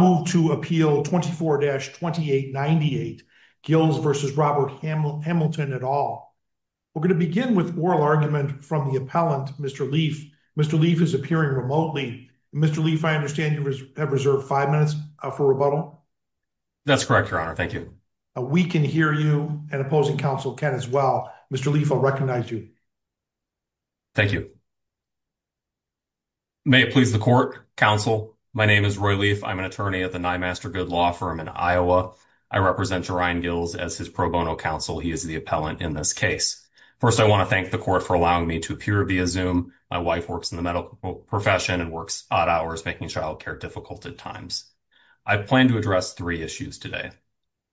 We're going to begin with oral argument from the appellant, Mr. Leaf. Mr. Leaf is appearing remotely. Mr. Leaf, I understand you have reserved five minutes for rebuttal? That's correct, Your Honor. Thank you. We can hear you, and opposing counsel can as well. Mr. Leaf, I'll recognize you. Thank you. May it please the court, counsel, my name is Roy Leaf. I'm an attorney. I'm here on behalf of Mr. Gills v. Robert Hamilton. I'm an attorney at the Nymaster Good Law Firm in Iowa. I represent Jaryan Gills as his pro bono counsel. He is the appellant in this case. First, I want to thank the court for allowing me to appear via Zoom. My wife works in the medical profession and works odd hours, making child care difficult at times. I plan to address three issues today.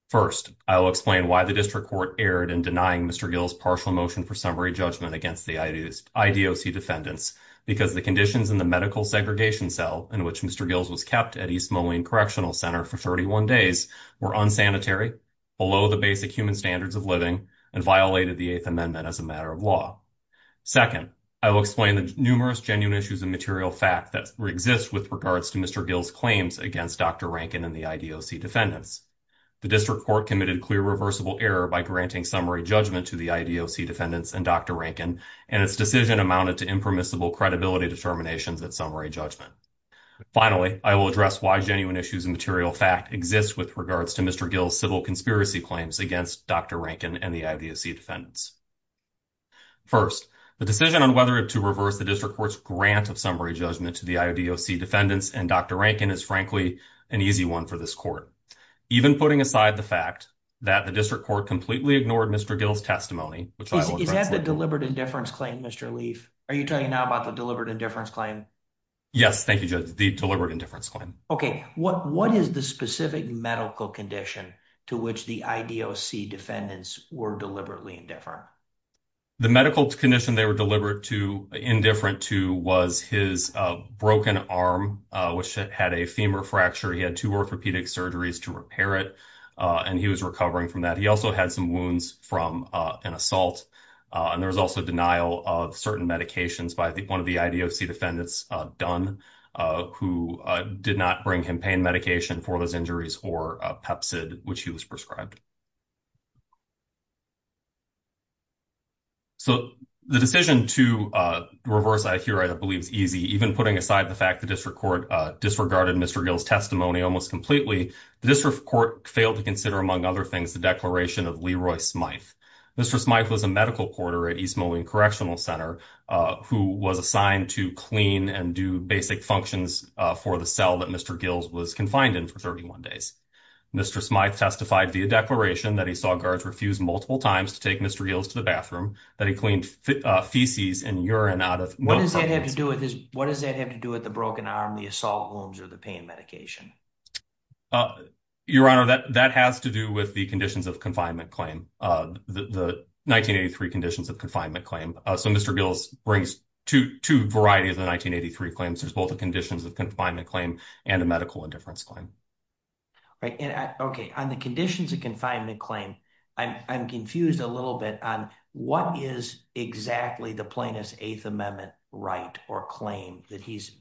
First, I will explain why the district court erred in denying Mr. Gills' partial motion for summary judgment against the IDOC defendants, because the conditions in the medical segregation cell in which Mr. Gills was kept at East Moline Correctional Center for 31 days were unsanitary, below the basic human standards of living, and violated the Eighth Amendment as a matter of law. Second, I will explain the numerous genuine issues and material fact that exist with regards to Mr. Gills' claims against Dr. Rankin and the IDOC defendants. The district court committed clear reversible error by granting summary judgment to the IDOC defendants and Dr. Rankin, and its decision amounted to impermissible credibility determinations at summary judgment. Finally, I will address why genuine issues and material fact exist with regards to Mr. Gills' civil conspiracy claims against Dr. Rankin and the IDOC defendants. First, the decision on whether to reverse the district court's grant of summary judgment to the IDOC defendants and Dr. Rankin is, frankly, an easy one for this court. Even putting aside the fact that the district court completely ignored Mr. Gills' testimony, which I will address later. Is that the deliberate indifference claim, Mr. Leaf? Are you telling me now about the deliberate indifference claim? Yes, thank you, Judge. The deliberate indifference claim. Okay. What is the specific medical condition to which the IDOC defendants were deliberately indifferent? The medical condition they were deliberate to, indifferent to, was his broken arm, which had a femur fracture. He had two orthopedic surgeries to repair it, and he was recovering from that. He also had some wounds from an assault. And there was also denial of certain medications by one of the IDOC defendants, Dunn, who did not bring him pain medication for those injuries or Pepsid, which he was prescribed. So the decision to reverse, I hear, I believe is easy, even putting aside the fact the district court disregarded Mr. Gills' testimony almost completely. The district court failed to consider, among other things, the declaration of Leroy Smyth. Mr. Smyth was a medical court at East Moline Correctional Center, who was assigned to clean and do basic functions for the cell that Mr. Gills was confined in for 31 days. Mr. Smyth testified via declaration that he saw guards refuse multiple times to take Mr. Gills to the bathroom, that he cleaned feces and urine out of one of his pockets. What does that have to do with the broken arm, the assault wounds, or the pain medication? Your Honor, that has to do with the conditions of confinement claim, the 1983 conditions of confinement claim. So Mr. Gills brings two varieties of the 1983 claims. There's both the conditions of confinement claim and a medical indifference claim. Okay, on the conditions of confinement claim, I'm confused a little bit on what is exactly the plaintiff's Eighth Amendment right or claim that he's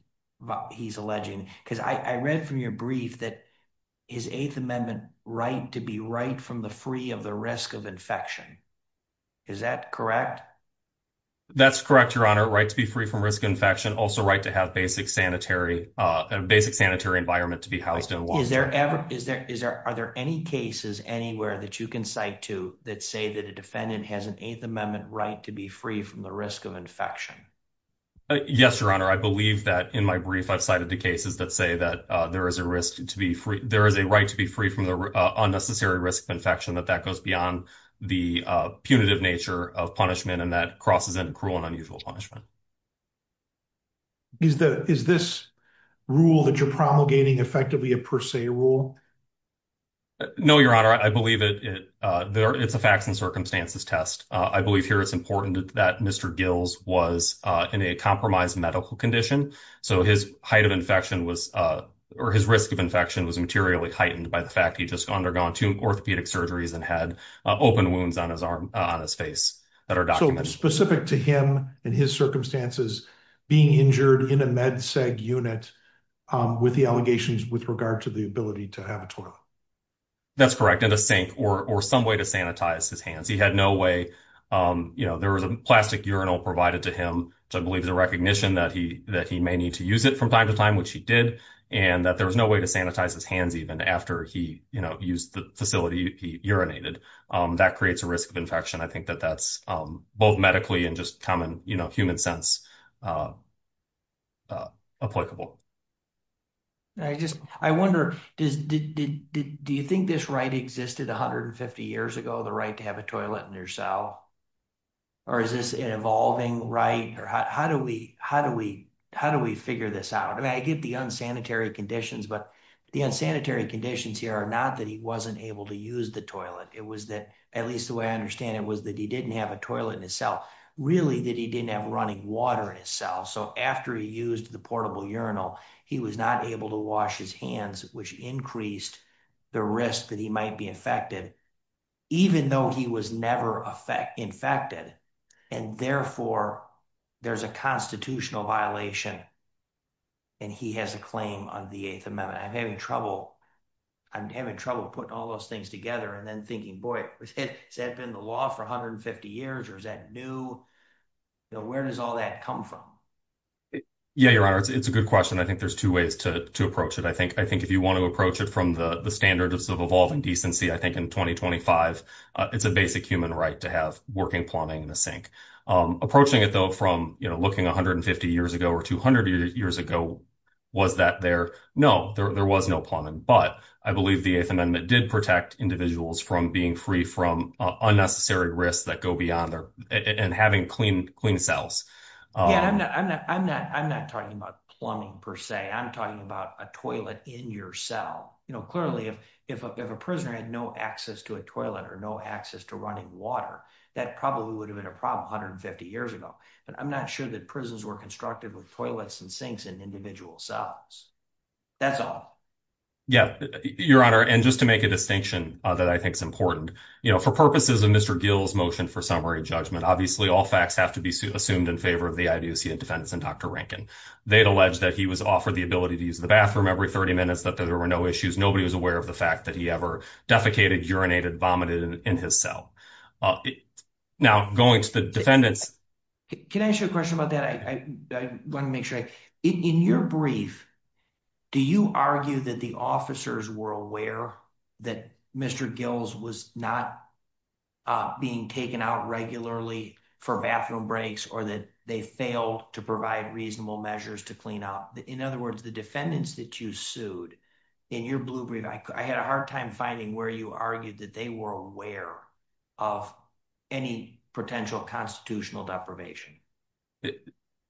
alleging? Because I read from your brief that his Eighth Amendment right to be right from the free of the risk of infection. Is that correct? That's correct, Your Honor, right to be free from risk of infection, also right to have a basic sanitary environment to be housed in. Are there any cases anywhere that you can cite to that say that a defendant has an Eighth Amendment right to be free from the risk of infection? Yes, Your Honor, I believe that in my brief I've cited the cases that say that there is a right to be free from the unnecessary risk of infection, that that goes beyond the punitive nature of punishment and that crosses into cruel and unusual punishment. Is this rule that you're promulgating effectively a per se rule? No, Your Honor, I believe it's a facts and circumstances test. I believe here it's important that Mr. Gills was in a compromised medical condition. So his height of infection was or his risk of infection was materially heightened by the fact he just undergone two orthopedic surgeries and had open wounds on his arm on his face that are documented. Is this specific to him and his circumstances being injured in a med-seg unit with the allegations with regard to the ability to have a toilet? That's correct, in a sink or some way to sanitize his hands. He had no way, you know, there was a plastic urinal provided to him, which I believe is a recognition that he may need to use it from time to time, which he did, and that there was no way to sanitize his hands even after he, you know, used the facility he urinated. That creates a risk of infection. I think that that's both medically and just common, you know, human sense applicable. I just, I wonder, do you think this right existed 150 years ago, the right to have a toilet in your cell? Or is this an evolving right? Or how do we, how do we, how do we figure this out? I mean, I get the unsanitary conditions, but the unsanitary conditions here are not that he wasn't able to use the toilet. It was that, at least the way I understand it, was that he didn't have a toilet in his cell. Really, that he didn't have running water in his cell. So after he used the portable urinal, he was not able to wash his hands, which increased the risk that he might be infected. Even though he was never infected, and therefore there's a constitutional violation, and he has a claim on the Eighth Amendment. I'm having trouble, I'm having trouble putting all those things together and then thinking, boy, has that been the law for 150 years? Or is that new? You know, where does all that come from? Yeah, Your Honor, it's a good question. I think there's two ways to approach it. I think if you want to approach it from the standards of evolving decency, I think in 2025, it's a basic human right to have working plumbing in the sink. Approaching it, though, from looking 150 years ago or 200 years ago, was that there? No, there was no plumbing. But I believe the Eighth Amendment did protect individuals from being free from unnecessary risks that go beyond and having clean cells. I'm not talking about plumbing, per se. I'm talking about a toilet in your cell. Clearly, if a prisoner had no access to a toilet or no access to running water, that probably would have been a problem 150 years ago. But I'm not sure that prisons were constructed with toilets and sinks in individual cells. That's all. Yeah, Your Honor, and just to make a distinction that I think is important. For purposes of Mr. Gill's motion for summary judgment, obviously, all facts have to be assumed in favor of the IBOC and defendants and Dr. Rankin. They'd allege that he was offered the ability to use the bathroom every 30 minutes, that there were no issues. Nobody was aware of the fact that he ever defecated, urinated, vomited in his cell. Now, going to the defendants. Can I ask you a question about that? In your brief, do you argue that the officers were aware that Mr. Gill's was not being taken out regularly for bathroom breaks or that they failed to provide reasonable measures to clean up? In other words, the defendants that you sued in your blue brief, I had a hard time finding where you argued that they were aware of any potential constitutional deprivation.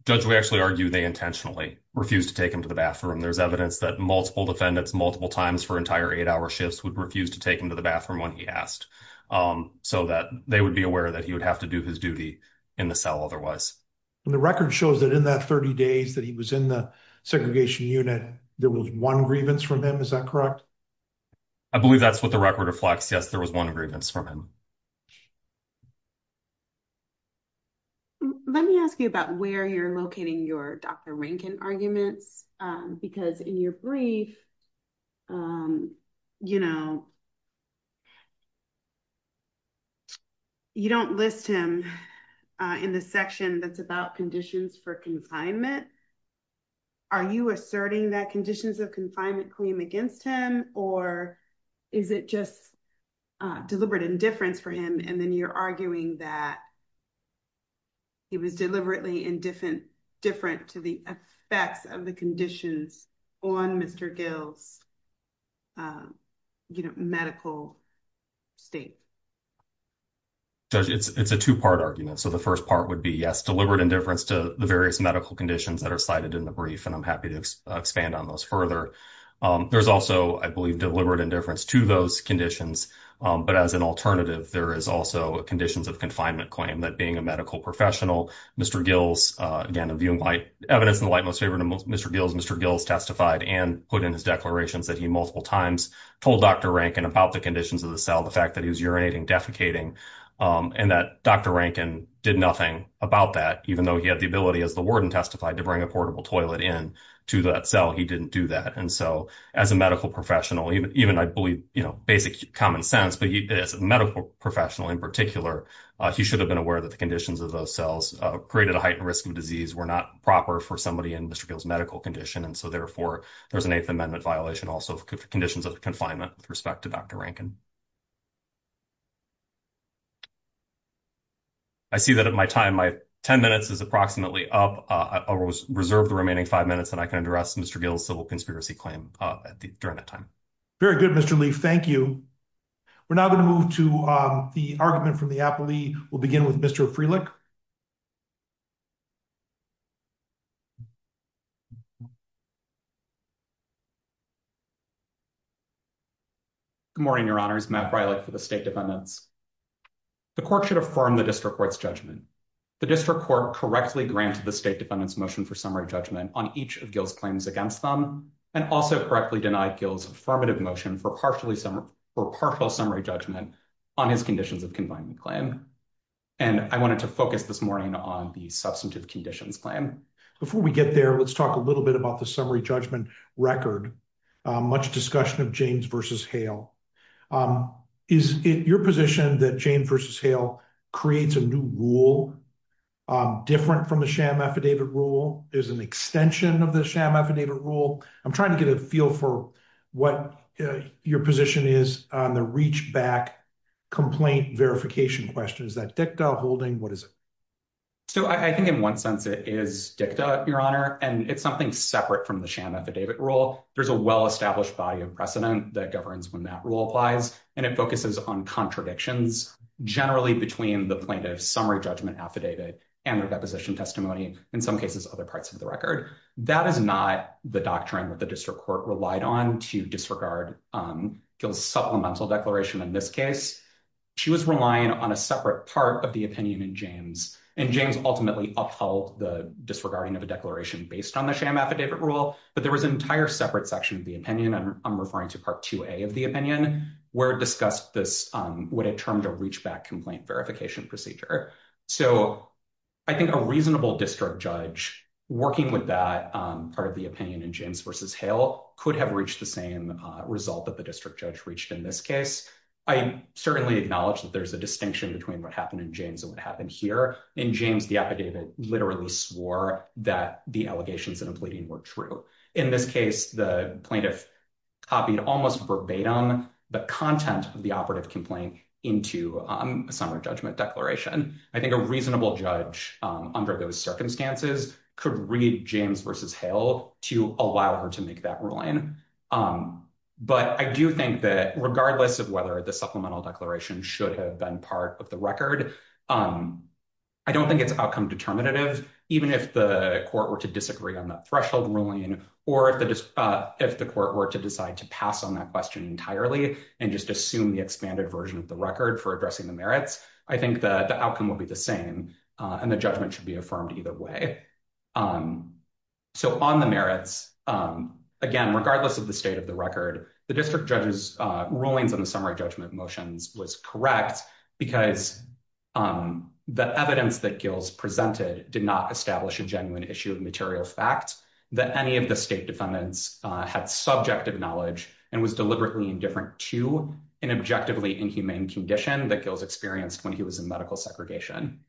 Judge, we actually argue they intentionally refused to take him to the bathroom. There's evidence that multiple defendants, multiple times for entire eight-hour shifts, would refuse to take him to the bathroom when he asked so that they would be aware that he would have to do his duty in the cell otherwise. And the record shows that in that 30 days that he was in the segregation unit, there was one grievance from him. Is that correct? I believe that's what the record reflects. Yes, there was one grievance from him. Let me ask you about where you're locating your Dr. Rankin arguments. Because in your brief, you don't list him in the section that's about conditions for confinement. Are you asserting that conditions of confinement claim against him, or is it just deliberate indifference for him? And then you're arguing that he was deliberately indifferent to the effects of the conditions on Mr. Gill's medical state. Judge, it's a two-part argument. So the first part would be, yes, deliberate indifference to the various medical conditions that are cited in the brief, and I'm happy to expand on those further. There's also, I believe, deliberate indifference to those conditions. But as an alternative, there is also a conditions of confinement claim that being a medical professional, Mr. Gill's, again, viewing evidence in the light most favorable to Mr. Gill's. Mr. Gill's testified and put in his declarations that he multiple times told Dr. Rankin about the conditions of the cell, the fact that he was urinating, defecating, and that Dr. Rankin did nothing about that. Even though he had the ability, as the warden testified, to bring a portable toilet in to that cell, he didn't do that. And so as a medical professional, even I believe basic common sense, but as a medical professional in particular, he should have been aware that the conditions of those cells created a heightened risk of disease were not proper for somebody in Mr. Gill's medical condition. And so, therefore, there's an Eighth Amendment violation also for conditions of confinement with respect to Dr. Rankin. I see that at my time, my 10 minutes is approximately up. I will reserve the remaining five minutes and I can address Mr. Gill's civil conspiracy claim during that time. Very good, Mr. Lee. Thank you. We're now going to move to the argument from the appellee. We'll begin with Mr. Freelich. Good morning, Your Honors. Matt Freilich for the State Defendants. The court should affirm the District Court's judgment. The District Court correctly granted the State Defendants' motion for summary judgment on each of Gill's claims against them, and also correctly denied Gill's affirmative motion for partial summary judgment on his conditions of confinement claim. And I wanted to focus this morning on the substantive conditions claim. Before we get there, let's talk a little bit about the summary judgment record. Much discussion of James v. Hale. Is it your position that James v. Hale creates a new rule different from the sham affidavit rule? Is it an extension of the sham affidavit rule? I'm trying to get a feel for what your position is on the reach-back complaint verification question. Is that dicta holding? What is it? So I think in one sense it is dicta, Your Honor, and it's something separate from the sham affidavit rule. There's a well-established body of precedent that governs when that rule applies, and it focuses on contradictions generally between the plaintiff's summary judgment affidavit and their deposition testimony, in some cases other parts of the record. That is not the doctrine that the District Court relied on to disregard Gill's supplemental declaration in this case. She was relying on a separate part of the opinion in James, and James ultimately upheld the disregarding of a declaration based on the sham affidavit rule. But there was an entire separate section of the opinion, and I'm referring to Part 2A of the opinion, where it discussed this, what it termed a reach-back complaint verification procedure. So I think a reasonable district judge working with that part of the opinion in James v. Hale could have reached the same result that the district judge reached in this case. I certainly acknowledge that there's a distinction between what happened in James and what happened here. In James, the affidavit literally swore that the allegations in a pleading were true. In this case, the plaintiff copied almost verbatim the content of the operative complaint into a summary judgment declaration. I think a reasonable judge under those circumstances could read James v. Hale to allow her to make that ruling. But I do think that regardless of whether the supplemental declaration should have been part of the record, I don't think it's outcome determinative. Even if the court were to disagree on that threshold ruling or if the court were to decide to pass on that question entirely and just assume the expanded version of the record for addressing the merits, I think that the outcome would be the same and the judgment should be affirmed either way. So on the merits, again, regardless of the state of the record, the district judge's rulings on the summary judgment motions was correct because the evidence that Gills presented did not establish a genuine issue of material fact that any of the state defendants had subjective knowledge and was deliberately indifferent to an objectively inhumane condition that Gills experienced when he was in medical segregation.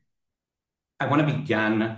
I want to begin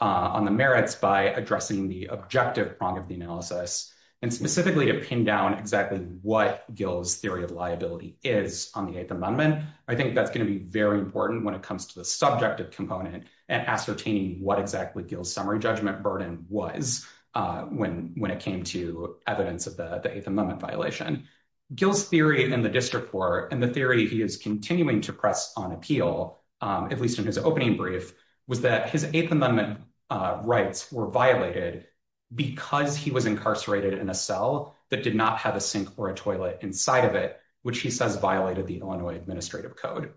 on the merits by addressing the objective prong of the analysis and specifically to pin down exactly what Gills' theory of liability is on the Eighth Amendment. I think that's going to be very important when it comes to the subjective component and ascertaining what exactly Gills' summary judgment burden was when it came to evidence of the Eighth Amendment violation. Gills' theory in the district court and the theory he is continuing to press on appeal, at least in his opening brief, was that his Eighth Amendment rights were violated because he was incarcerated in a cell that did not have a sink or a toilet inside of it, which he says violated the Illinois Administrative Code.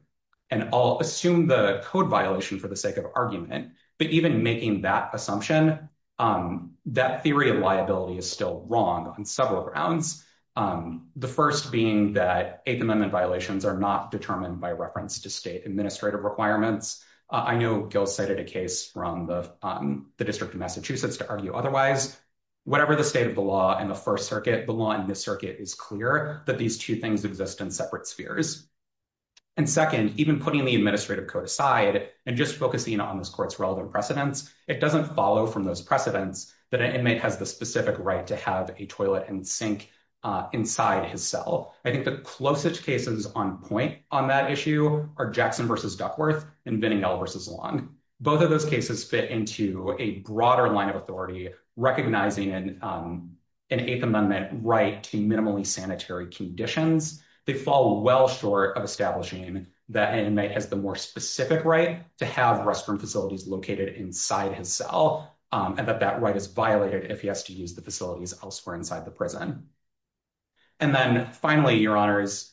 And I'll assume the code violation for the sake of argument, but even making that assumption, that theory of liability is still wrong on several grounds. The first being that Eighth Amendment violations are not determined by reference to state administrative requirements. I know Gills cited a case from the District of Massachusetts to argue otherwise. Whatever the state of the law in the First Circuit, the law in this circuit is clear that these two things exist in separate spheres. And second, even putting the Administrative Code aside and just focusing on this court's relevant precedents, it doesn't follow from those precedents that an inmate has the specific right to have a toilet and sink inside his cell. I think the closest cases on point on that issue are Jackson v. Duckworth and Vinningell v. Long. Both of those cases fit into a broader line of authority, recognizing an Eighth Amendment right to minimally sanitary conditions. They fall well short of establishing that an inmate has the more specific right to have restroom facilities located inside his cell, and that that right is violated if he has to use the facilities elsewhere inside the prison. And then finally, Your Honors,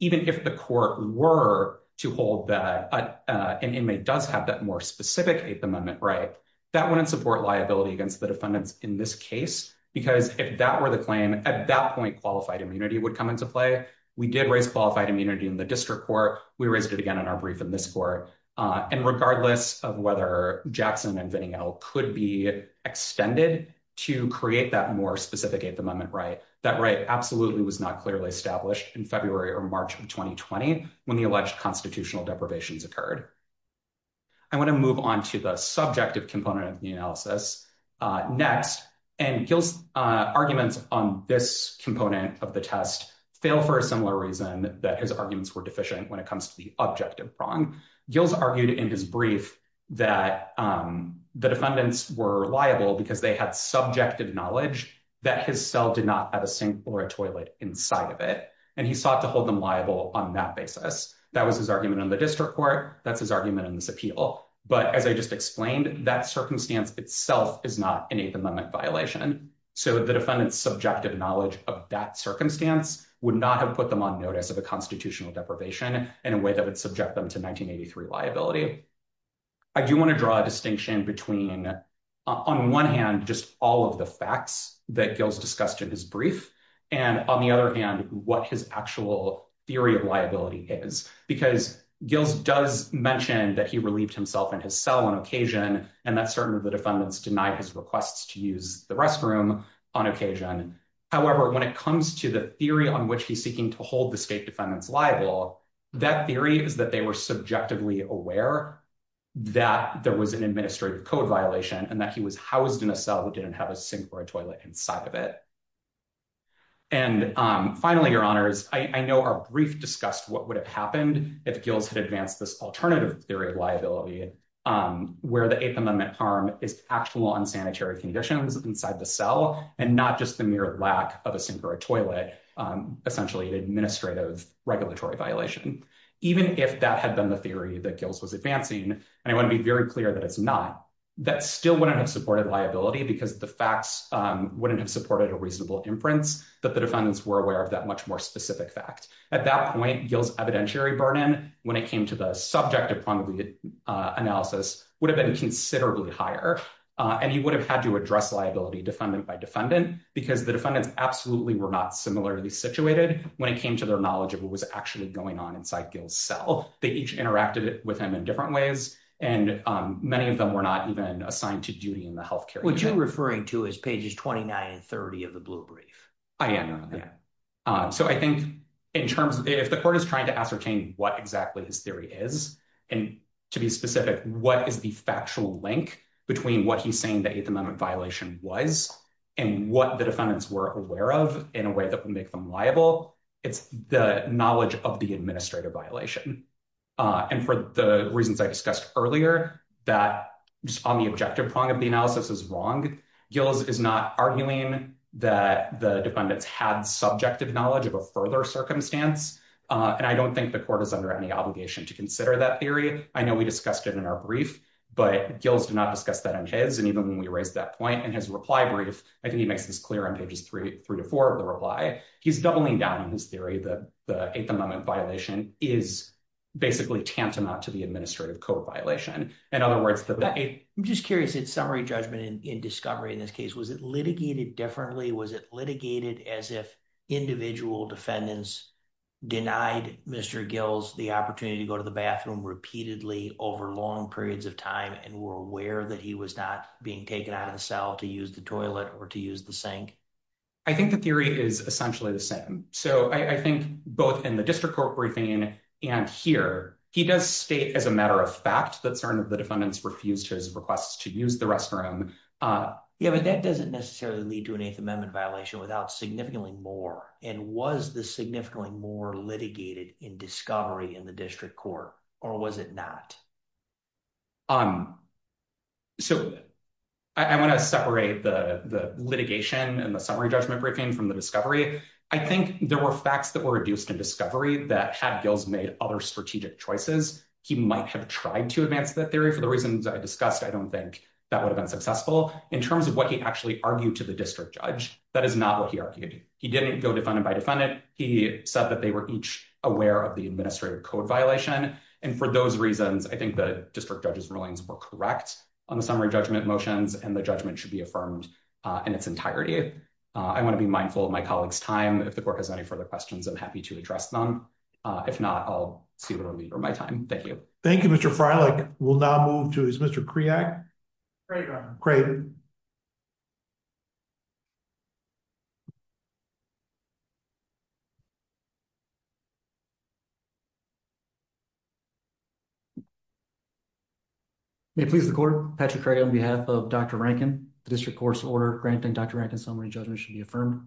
even if the court were to hold that an inmate does have that more specific Eighth Amendment right, that wouldn't support liability against the defendants in this case, because if that were the claim, at that point, qualified immunity would come into play. We did raise qualified immunity in the district court. We raised it again in our brief in this court. And regardless of whether Jackson and Vinningell could be extended to create that more specific Eighth Amendment right, that right absolutely was not clearly established in February or March of 2020 when the alleged constitutional deprivations occurred. I want to move on to the subjective component of the analysis next, and Gil's arguments on this component of the test fail for a similar reason, that his arguments were deficient when it comes to the objective wrong. Gil's argued in his brief that the defendants were liable because they had subjective knowledge that his cell did not have a sink or a toilet inside of it, and he sought to hold them liable on that basis. That was his argument in the district court. That's his argument in this appeal. But as I just explained, that circumstance itself is not an Eighth Amendment violation. So the defendant's subjective knowledge of that circumstance would not have put them on notice of a constitutional deprivation in a way that would subject them to 1983 liability. I do want to draw a distinction between, on one hand, just all of the facts that Gil's discussed in his brief, and, on the other hand, what his actual theory of liability is. Because Gil does mention that he relieved himself in his cell on occasion, and that certainly the defendants denied his requests to use the restroom on occasion. However, when it comes to the theory on which he's seeking to hold the state defendants liable, that theory is that they were subjectively aware that there was an administrative code violation and that he was housed in a cell that didn't have a sink or a toilet inside of it. And finally, Your Honors, I know our brief discussed what would have happened if Gil's had advanced this alternative theory of liability, where the Eighth Amendment harm is actual unsanitary conditions inside the cell, and not just the mere lack of a sink or a toilet, essentially an administrative regulatory violation. Even if that had been the theory that Gil's was advancing, and I want to be very clear that it's not, that still wouldn't have supported liability because the facts wouldn't have supported a reasonable inference that the defendants were aware of that much more specific fact. At that point, Gil's evidentiary burden, when it came to the subject upon analysis, would have been considerably higher, and he would have had to address liability defendant by defendant, because the defendants absolutely were not similarly situated when it came to their knowledge of what was actually going on inside Gil's cell. They each interacted with him in different ways, and many of them were not even assigned to duty in the health care unit. What you're referring to is pages 29 and 30 of the blue brief. I am. So I think in terms of if the court is trying to ascertain what exactly his theory is, and to be specific, what is the factual link between what he's saying the Eighth Amendment violation was and what the defendants were aware of in a way that would make them liable, it's the knowledge of the administrative violation. And for the reasons I discussed earlier, that on the objective prong of the analysis is wrong. Gil's is not arguing that the defendants had subjective knowledge of a further circumstance. And I don't think the court is under any obligation to consider that theory. I know we discussed it in our brief, but Gil's did not discuss that in his. And even when we raised that point in his reply brief, I think he makes this clear on pages three, three to four of the reply. He's doubling down on his theory that the Eighth Amendment violation is basically tantamount to the administrative code violation. In other words, I'm just curious. It's summary judgment in discovery in this case. Was it litigated differently? Was it litigated as if individual defendants denied Mr. Gil's the opportunity to go to the bathroom repeatedly over long periods of time and were aware that he was not being taken out of the cell to use the toilet or to use the sink? I think the theory is essentially the same. So I think both in the district court briefing and here, he does state as a matter of fact that some of the defendants refused his requests to use the restroom. Yeah, but that doesn't necessarily lead to an Eighth Amendment violation without significantly more. And was the significantly more litigated in discovery in the district court or was it not? So I want to separate the litigation and the summary judgment briefing from the discovery. I think there were facts that were reduced in discovery that had Gil's made other strategic choices. He might have tried to advance that theory. For the reasons I discussed, I don't think that would have been successful in terms of what he actually argued to the district judge. That is not what he argued. He didn't go defendant by defendant. He said that they were each aware of the administrative code violation. And for those reasons, I think the district judge's rulings were correct on the summary judgment motions and the judgment should be affirmed in its entirety. I want to be mindful of my colleagues time. If the court has any further questions, I'm happy to address them. If not, I'll see what I need for my time. Thank you. Thank you, Mr. Freilich. We'll now move to his Mr. Kriak. Great. Great. Please, the court Patrick Craig, on behalf of Dr. Rankin, the district court's order granting Dr. Rankin summary judgment should be affirmed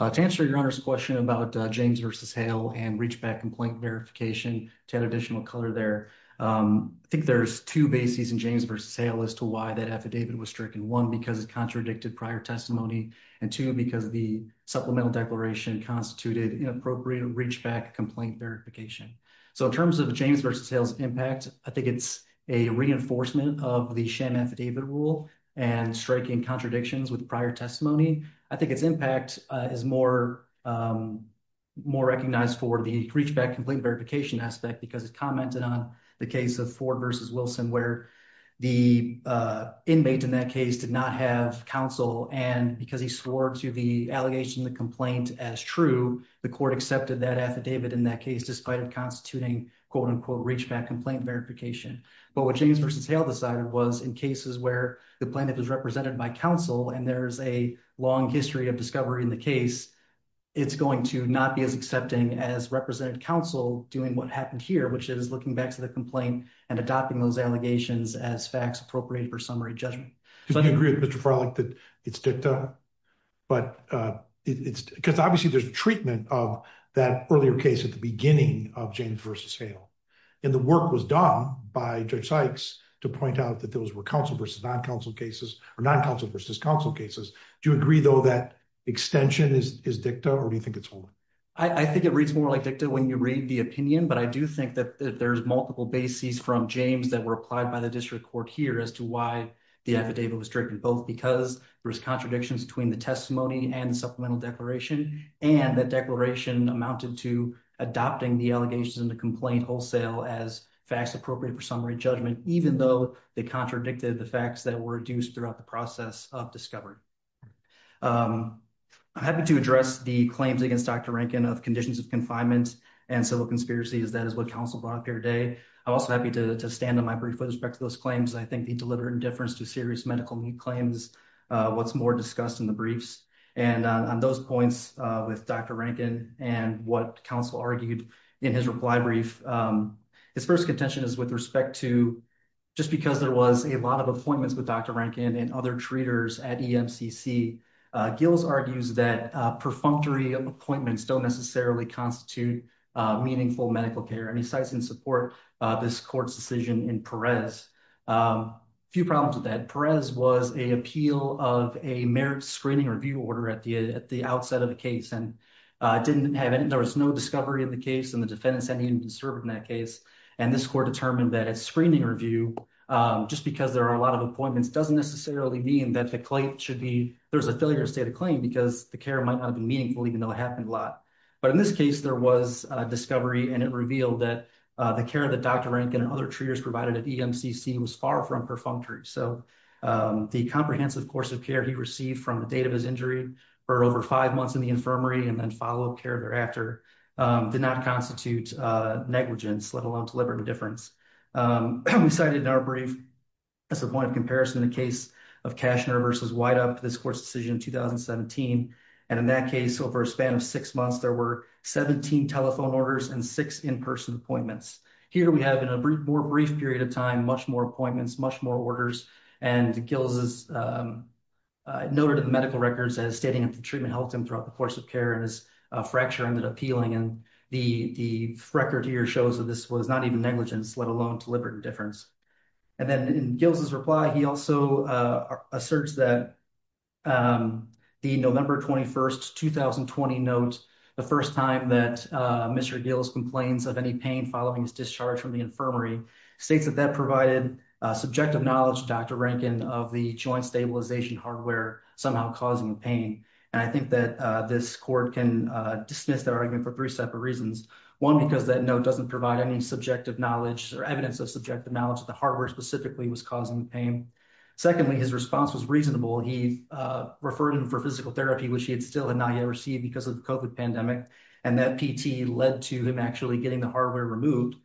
to answer your question about James versus Hale and reach back and point verification to add additional color there. I think there's two bases in James versus Hale as to why that affidavit was stricken. One, because it contradicted prior testimony. And two, because of the supplemental declaration constituted inappropriate reach back complaint verification. So in terms of James versus Hale's impact, I think it's a reinforcement of the sham affidavit rule and striking contradictions with prior testimony. I think its impact is more more recognized for the reach back complaint verification aspect because it commented on the case of Ford versus Wilson, where the inmate in that case did not have counsel. And because he swore to the allegation, the complaint as true, the court accepted that affidavit in that case, despite of constituting quote unquote reach back complaint verification. But what James versus Hale decided was in cases where the plaintiff is represented by counsel and there's a long history of discovery in the case, it's going to not be as accepting as representative counsel doing what happened here, which is looking back to the complaint and adopting those allegations as facts appropriate for summary judgment. Do you agree with Mr. Farlock that it's dicta? But it's because obviously there's treatment of that earlier case at the beginning of James versus Hale. And the work was done by Judge Sykes to point out that those were counsel versus non-counsel cases or non-counsel versus counsel cases. Do you agree though that extension is dicta or do you think it's holding? I think it reads more like dicta when you read the opinion, but I do think that there's multiple bases from James that were applied by the district court here as to why the affidavit was driven, both because there was contradictions between the testimony and supplemental declaration. And the declaration amounted to adopting the allegations in the complaint wholesale as facts appropriate for summary judgment, even though they contradicted the facts that were induced throughout the process of discovery. I'm happy to address the claims against Dr. Rankin of conditions of confinement and civil conspiracy as that is what counsel brought up here today. I'm also happy to stand on my brief with respect to those claims. I think the deliberate indifference to serious medical claims, what's more discussed in the briefs and on those points with Dr. Rankin and what counsel argued in his reply brief. His first contention is with respect to just because there was a lot of appointments with Dr. Rankin and other treaters at EMCC, Gills argues that perfunctory appointments don't necessarily constitute meaningful medical care and he cites in support of this court's decision in Perez. A few problems with that. Perez was an appeal of a merit screening review order at the outset of the case and didn't have any, there was no discovery of the case and the defendants hadn't even served in that case. And this court determined that a screening review, just because there are a lot of appointments doesn't necessarily mean that the claim should be, there's a failure to state a claim because the care might not have been meaningful even though it happened a lot. But in this case, there was a discovery and it revealed that the care that Dr. Rankin and other treaters provided at EMCC was far from perfunctory. So the comprehensive course of care he received from the date of his injury for over five months in the infirmary and then follow care thereafter did not constitute negligence, let alone deliberate indifference. We cited in our brief as a point of comparison in the case of Kaschner versus Whitehop, this court's decision in 2017. And in that case, over a span of six months, there were 17 telephone orders and six in-person appointments. Here we have in a more brief period of time, much more appointments, much more orders. And Gills noted in the medical records as stating that the treatment helped him throughout the course of care and his fracture ended up healing. And the record here shows that this was not even negligence, let alone deliberate indifference. And then in Gills' reply, he also asserts that the November 21st, 2020 note, the first time that Mr. Gills complains of any pain following his discharge from the infirmary, states that that provided subjective knowledge, Dr. Rankin, of the joint stabilization hardware somehow causing pain. And I think that this court can dismiss that argument for three separate reasons. One, because that note doesn't provide any subjective knowledge or evidence of subjective knowledge that the hardware specifically was causing the pain. Secondly, his response was reasonable. He referred him for physical therapy, which he had still not yet received because of the COVID pandemic, and that PT led to him actually getting the hardware removed.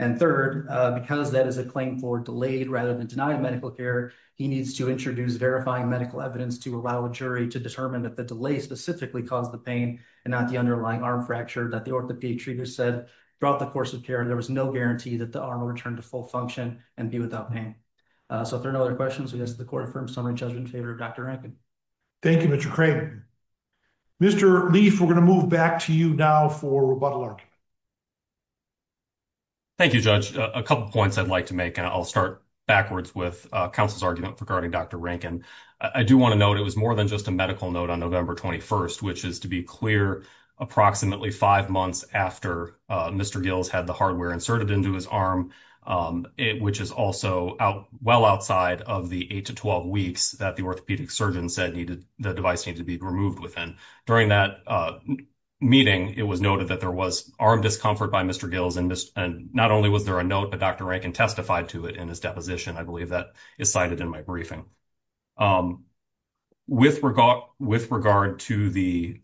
And third, because that is a claim for delayed rather than denied medical care, he needs to introduce verifying medical evidence to allow a jury to determine that the delay specifically caused the pain and not the underlying arm fracture that the orthopedic treatment said throughout the course of care, there was no guarantee that the arm will return to full function and be without pain. So if there are no other questions, we ask that the court affirm summary judgment in favor of Dr. Rankin. Thank you, Mr. Craven. Mr. Leaf, we're going to move back to you now for rebuttal argument. Thank you, Judge. A couple points I'd like to make, and I'll start backwards with counsel's argument regarding Dr. Rankin. I do want to note it was more than just a medical note on November 21st, which is to be clear, approximately five months after Mr. Gills had the hardware inserted into his arm, which is also well outside of the eight to 12 weeks that the orthopedic surgeon said the device needed to be removed within. During that meeting, it was noted that there was arm discomfort by Mr. Gills and not only was there a note, but Dr. Rankin testified to it in his deposition. I believe that is cited in my briefing. With regard to the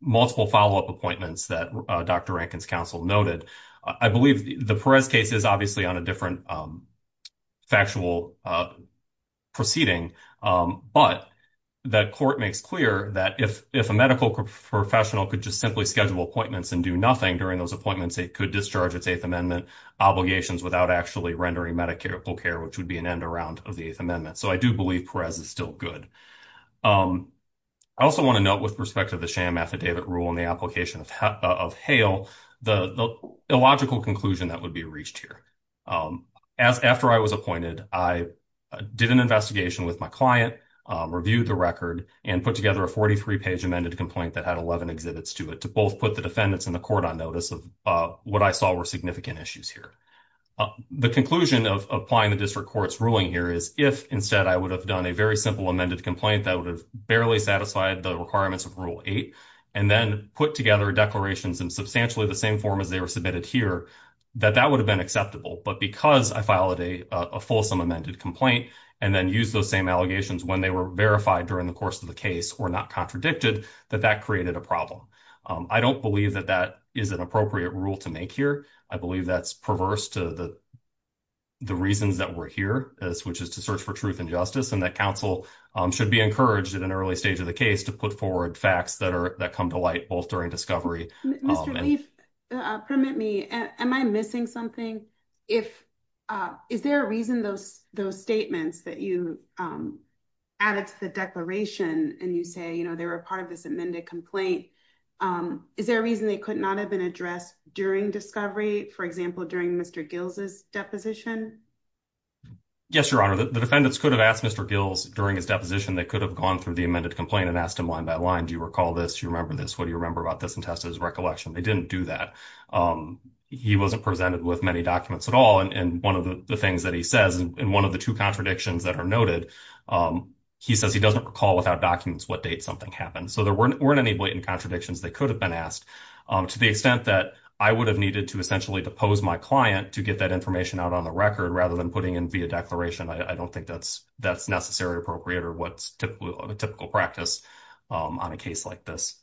multiple follow up appointments that Dr. Rankin's counsel noted, I believe the Perez case is obviously on a different factual proceeding. But that court makes clear that if a medical professional could just simply schedule appointments and do nothing during those appointments, it could discharge its Eighth Amendment obligations without actually rendering medical care, which would be an end around of the Eighth Amendment. So I do believe Perez is still good. I also want to note with respect to the sham affidavit rule in the application of Hale, the illogical conclusion that would be reached here. After I was appointed, I did an investigation with my client, reviewed the record and put together a 43 page amended complaint that had 11 exhibits to it to both put the defendants in the court on notice of what I saw were significant issues here. The conclusion of applying the district court's ruling here is if instead I would have done a very simple amended complaint that would have barely satisfied the requirements of Rule 8 and then put together declarations in substantially the same form as they were submitted here, that that would have been acceptable. But because I filed a fulsome amended complaint and then use those same allegations when they were verified during the course of the case or not contradicted, that that created a problem. I don't believe that that is an appropriate rule to make here. I believe that's perverse to the reasons that we're here, which is to search for truth and justice and that counsel should be encouraged in an early stage of the case to put forward facts that come to light both during discovery. Mr. Leaf, permit me, am I missing something? Is there a reason those statements that you added to the declaration and you say they were part of this amended complaint, is there a reason they could not have been addressed during discovery, for example, during Mr. Gills' deposition? Yes, Your Honor, the defendants could have asked Mr. Gills during his deposition. They could have gone through the amended complaint and asked him line by line. Do you recall this? You remember this? What do you remember about this? And tested his recollection. They didn't do that. He wasn't presented with many documents at all. And 1 of the things that he says, and 1 of the 2 contradictions that are noted, he says he doesn't recall without documents what date something happened. So there weren't any blatant contradictions that could have been asked to the extent that I would have needed to essentially depose my client to get that information out on the record rather than putting in via declaration. I don't think that's necessary or appropriate or what's a typical practice on a case like this.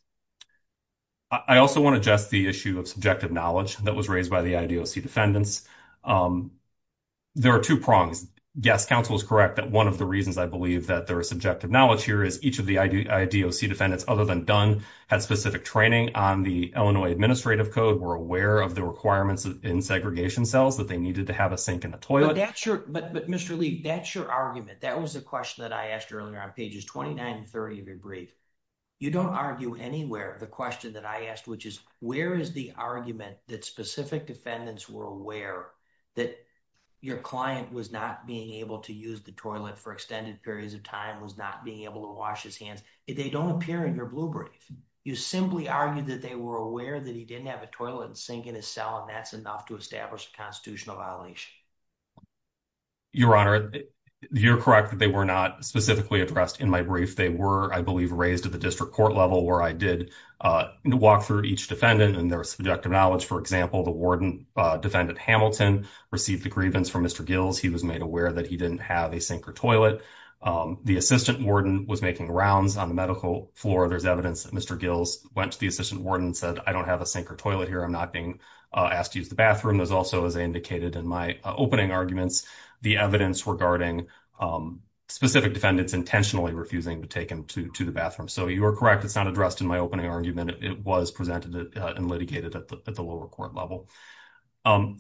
I also want to address the issue of subjective knowledge that was raised by the IDOC defendants. There are 2 prongs. Yes, counsel is correct that 1 of the reasons I believe that there are subjective knowledge here is each of the IDOC defendants, other than Dunn, had specific training on the Illinois administrative code, were aware of the requirements in segregation cells that they needed to have a sink and a toilet. But Mr. Lee, that's your argument. That was the question that I asked earlier on pages 29 and 30 of your brief. You don't argue anywhere the question that I asked, which is where is the argument that specific defendants were aware that your client was not being able to use the toilet for extended periods of time, was not being able to wash his hands. They don't appear in your blue brief. You simply argued that they were aware that he didn't have a toilet and sink in his cell, and that's enough to establish a constitutional violation. Your honor, you're correct that they were not specifically addressed in my brief. They were, I believe, raised at the district court level where I did walk through each defendant and their subjective knowledge. For example, the warden defendant Hamilton received the grievance from Mr. Gills. He was made aware that he didn't have a sink or toilet. The assistant warden was making rounds on the medical floor. There's evidence that Mr. Gills went to the assistant warden and said, I don't have a sink or toilet here. I'm not being asked to use the bathroom. There's also, as I indicated in my opening arguments, the evidence regarding specific defendants intentionally refusing to take him to the bathroom. So you are correct. It's not addressed in my opening argument. It was presented and litigated at the lower court level.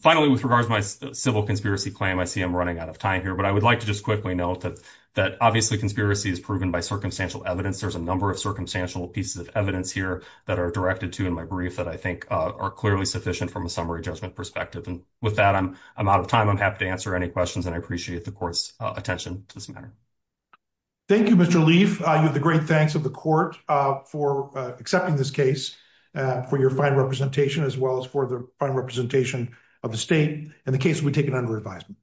Finally, with regards to my civil conspiracy claim, I see I'm running out of time here, but I would like to just quickly note that obviously conspiracy is proven by circumstantial evidence. There's a number of circumstantial pieces of evidence here that are directed to in my brief that I think are clearly sufficient from a summary judgment perspective. And with that, I'm out of time. I'm happy to answer any questions, and I appreciate the court's attention to this matter. Thank you, Mr. Leaf. The great thanks of the court for accepting this case for your fine representation as well as for the fine representation of the state and the case will be taken under advisement.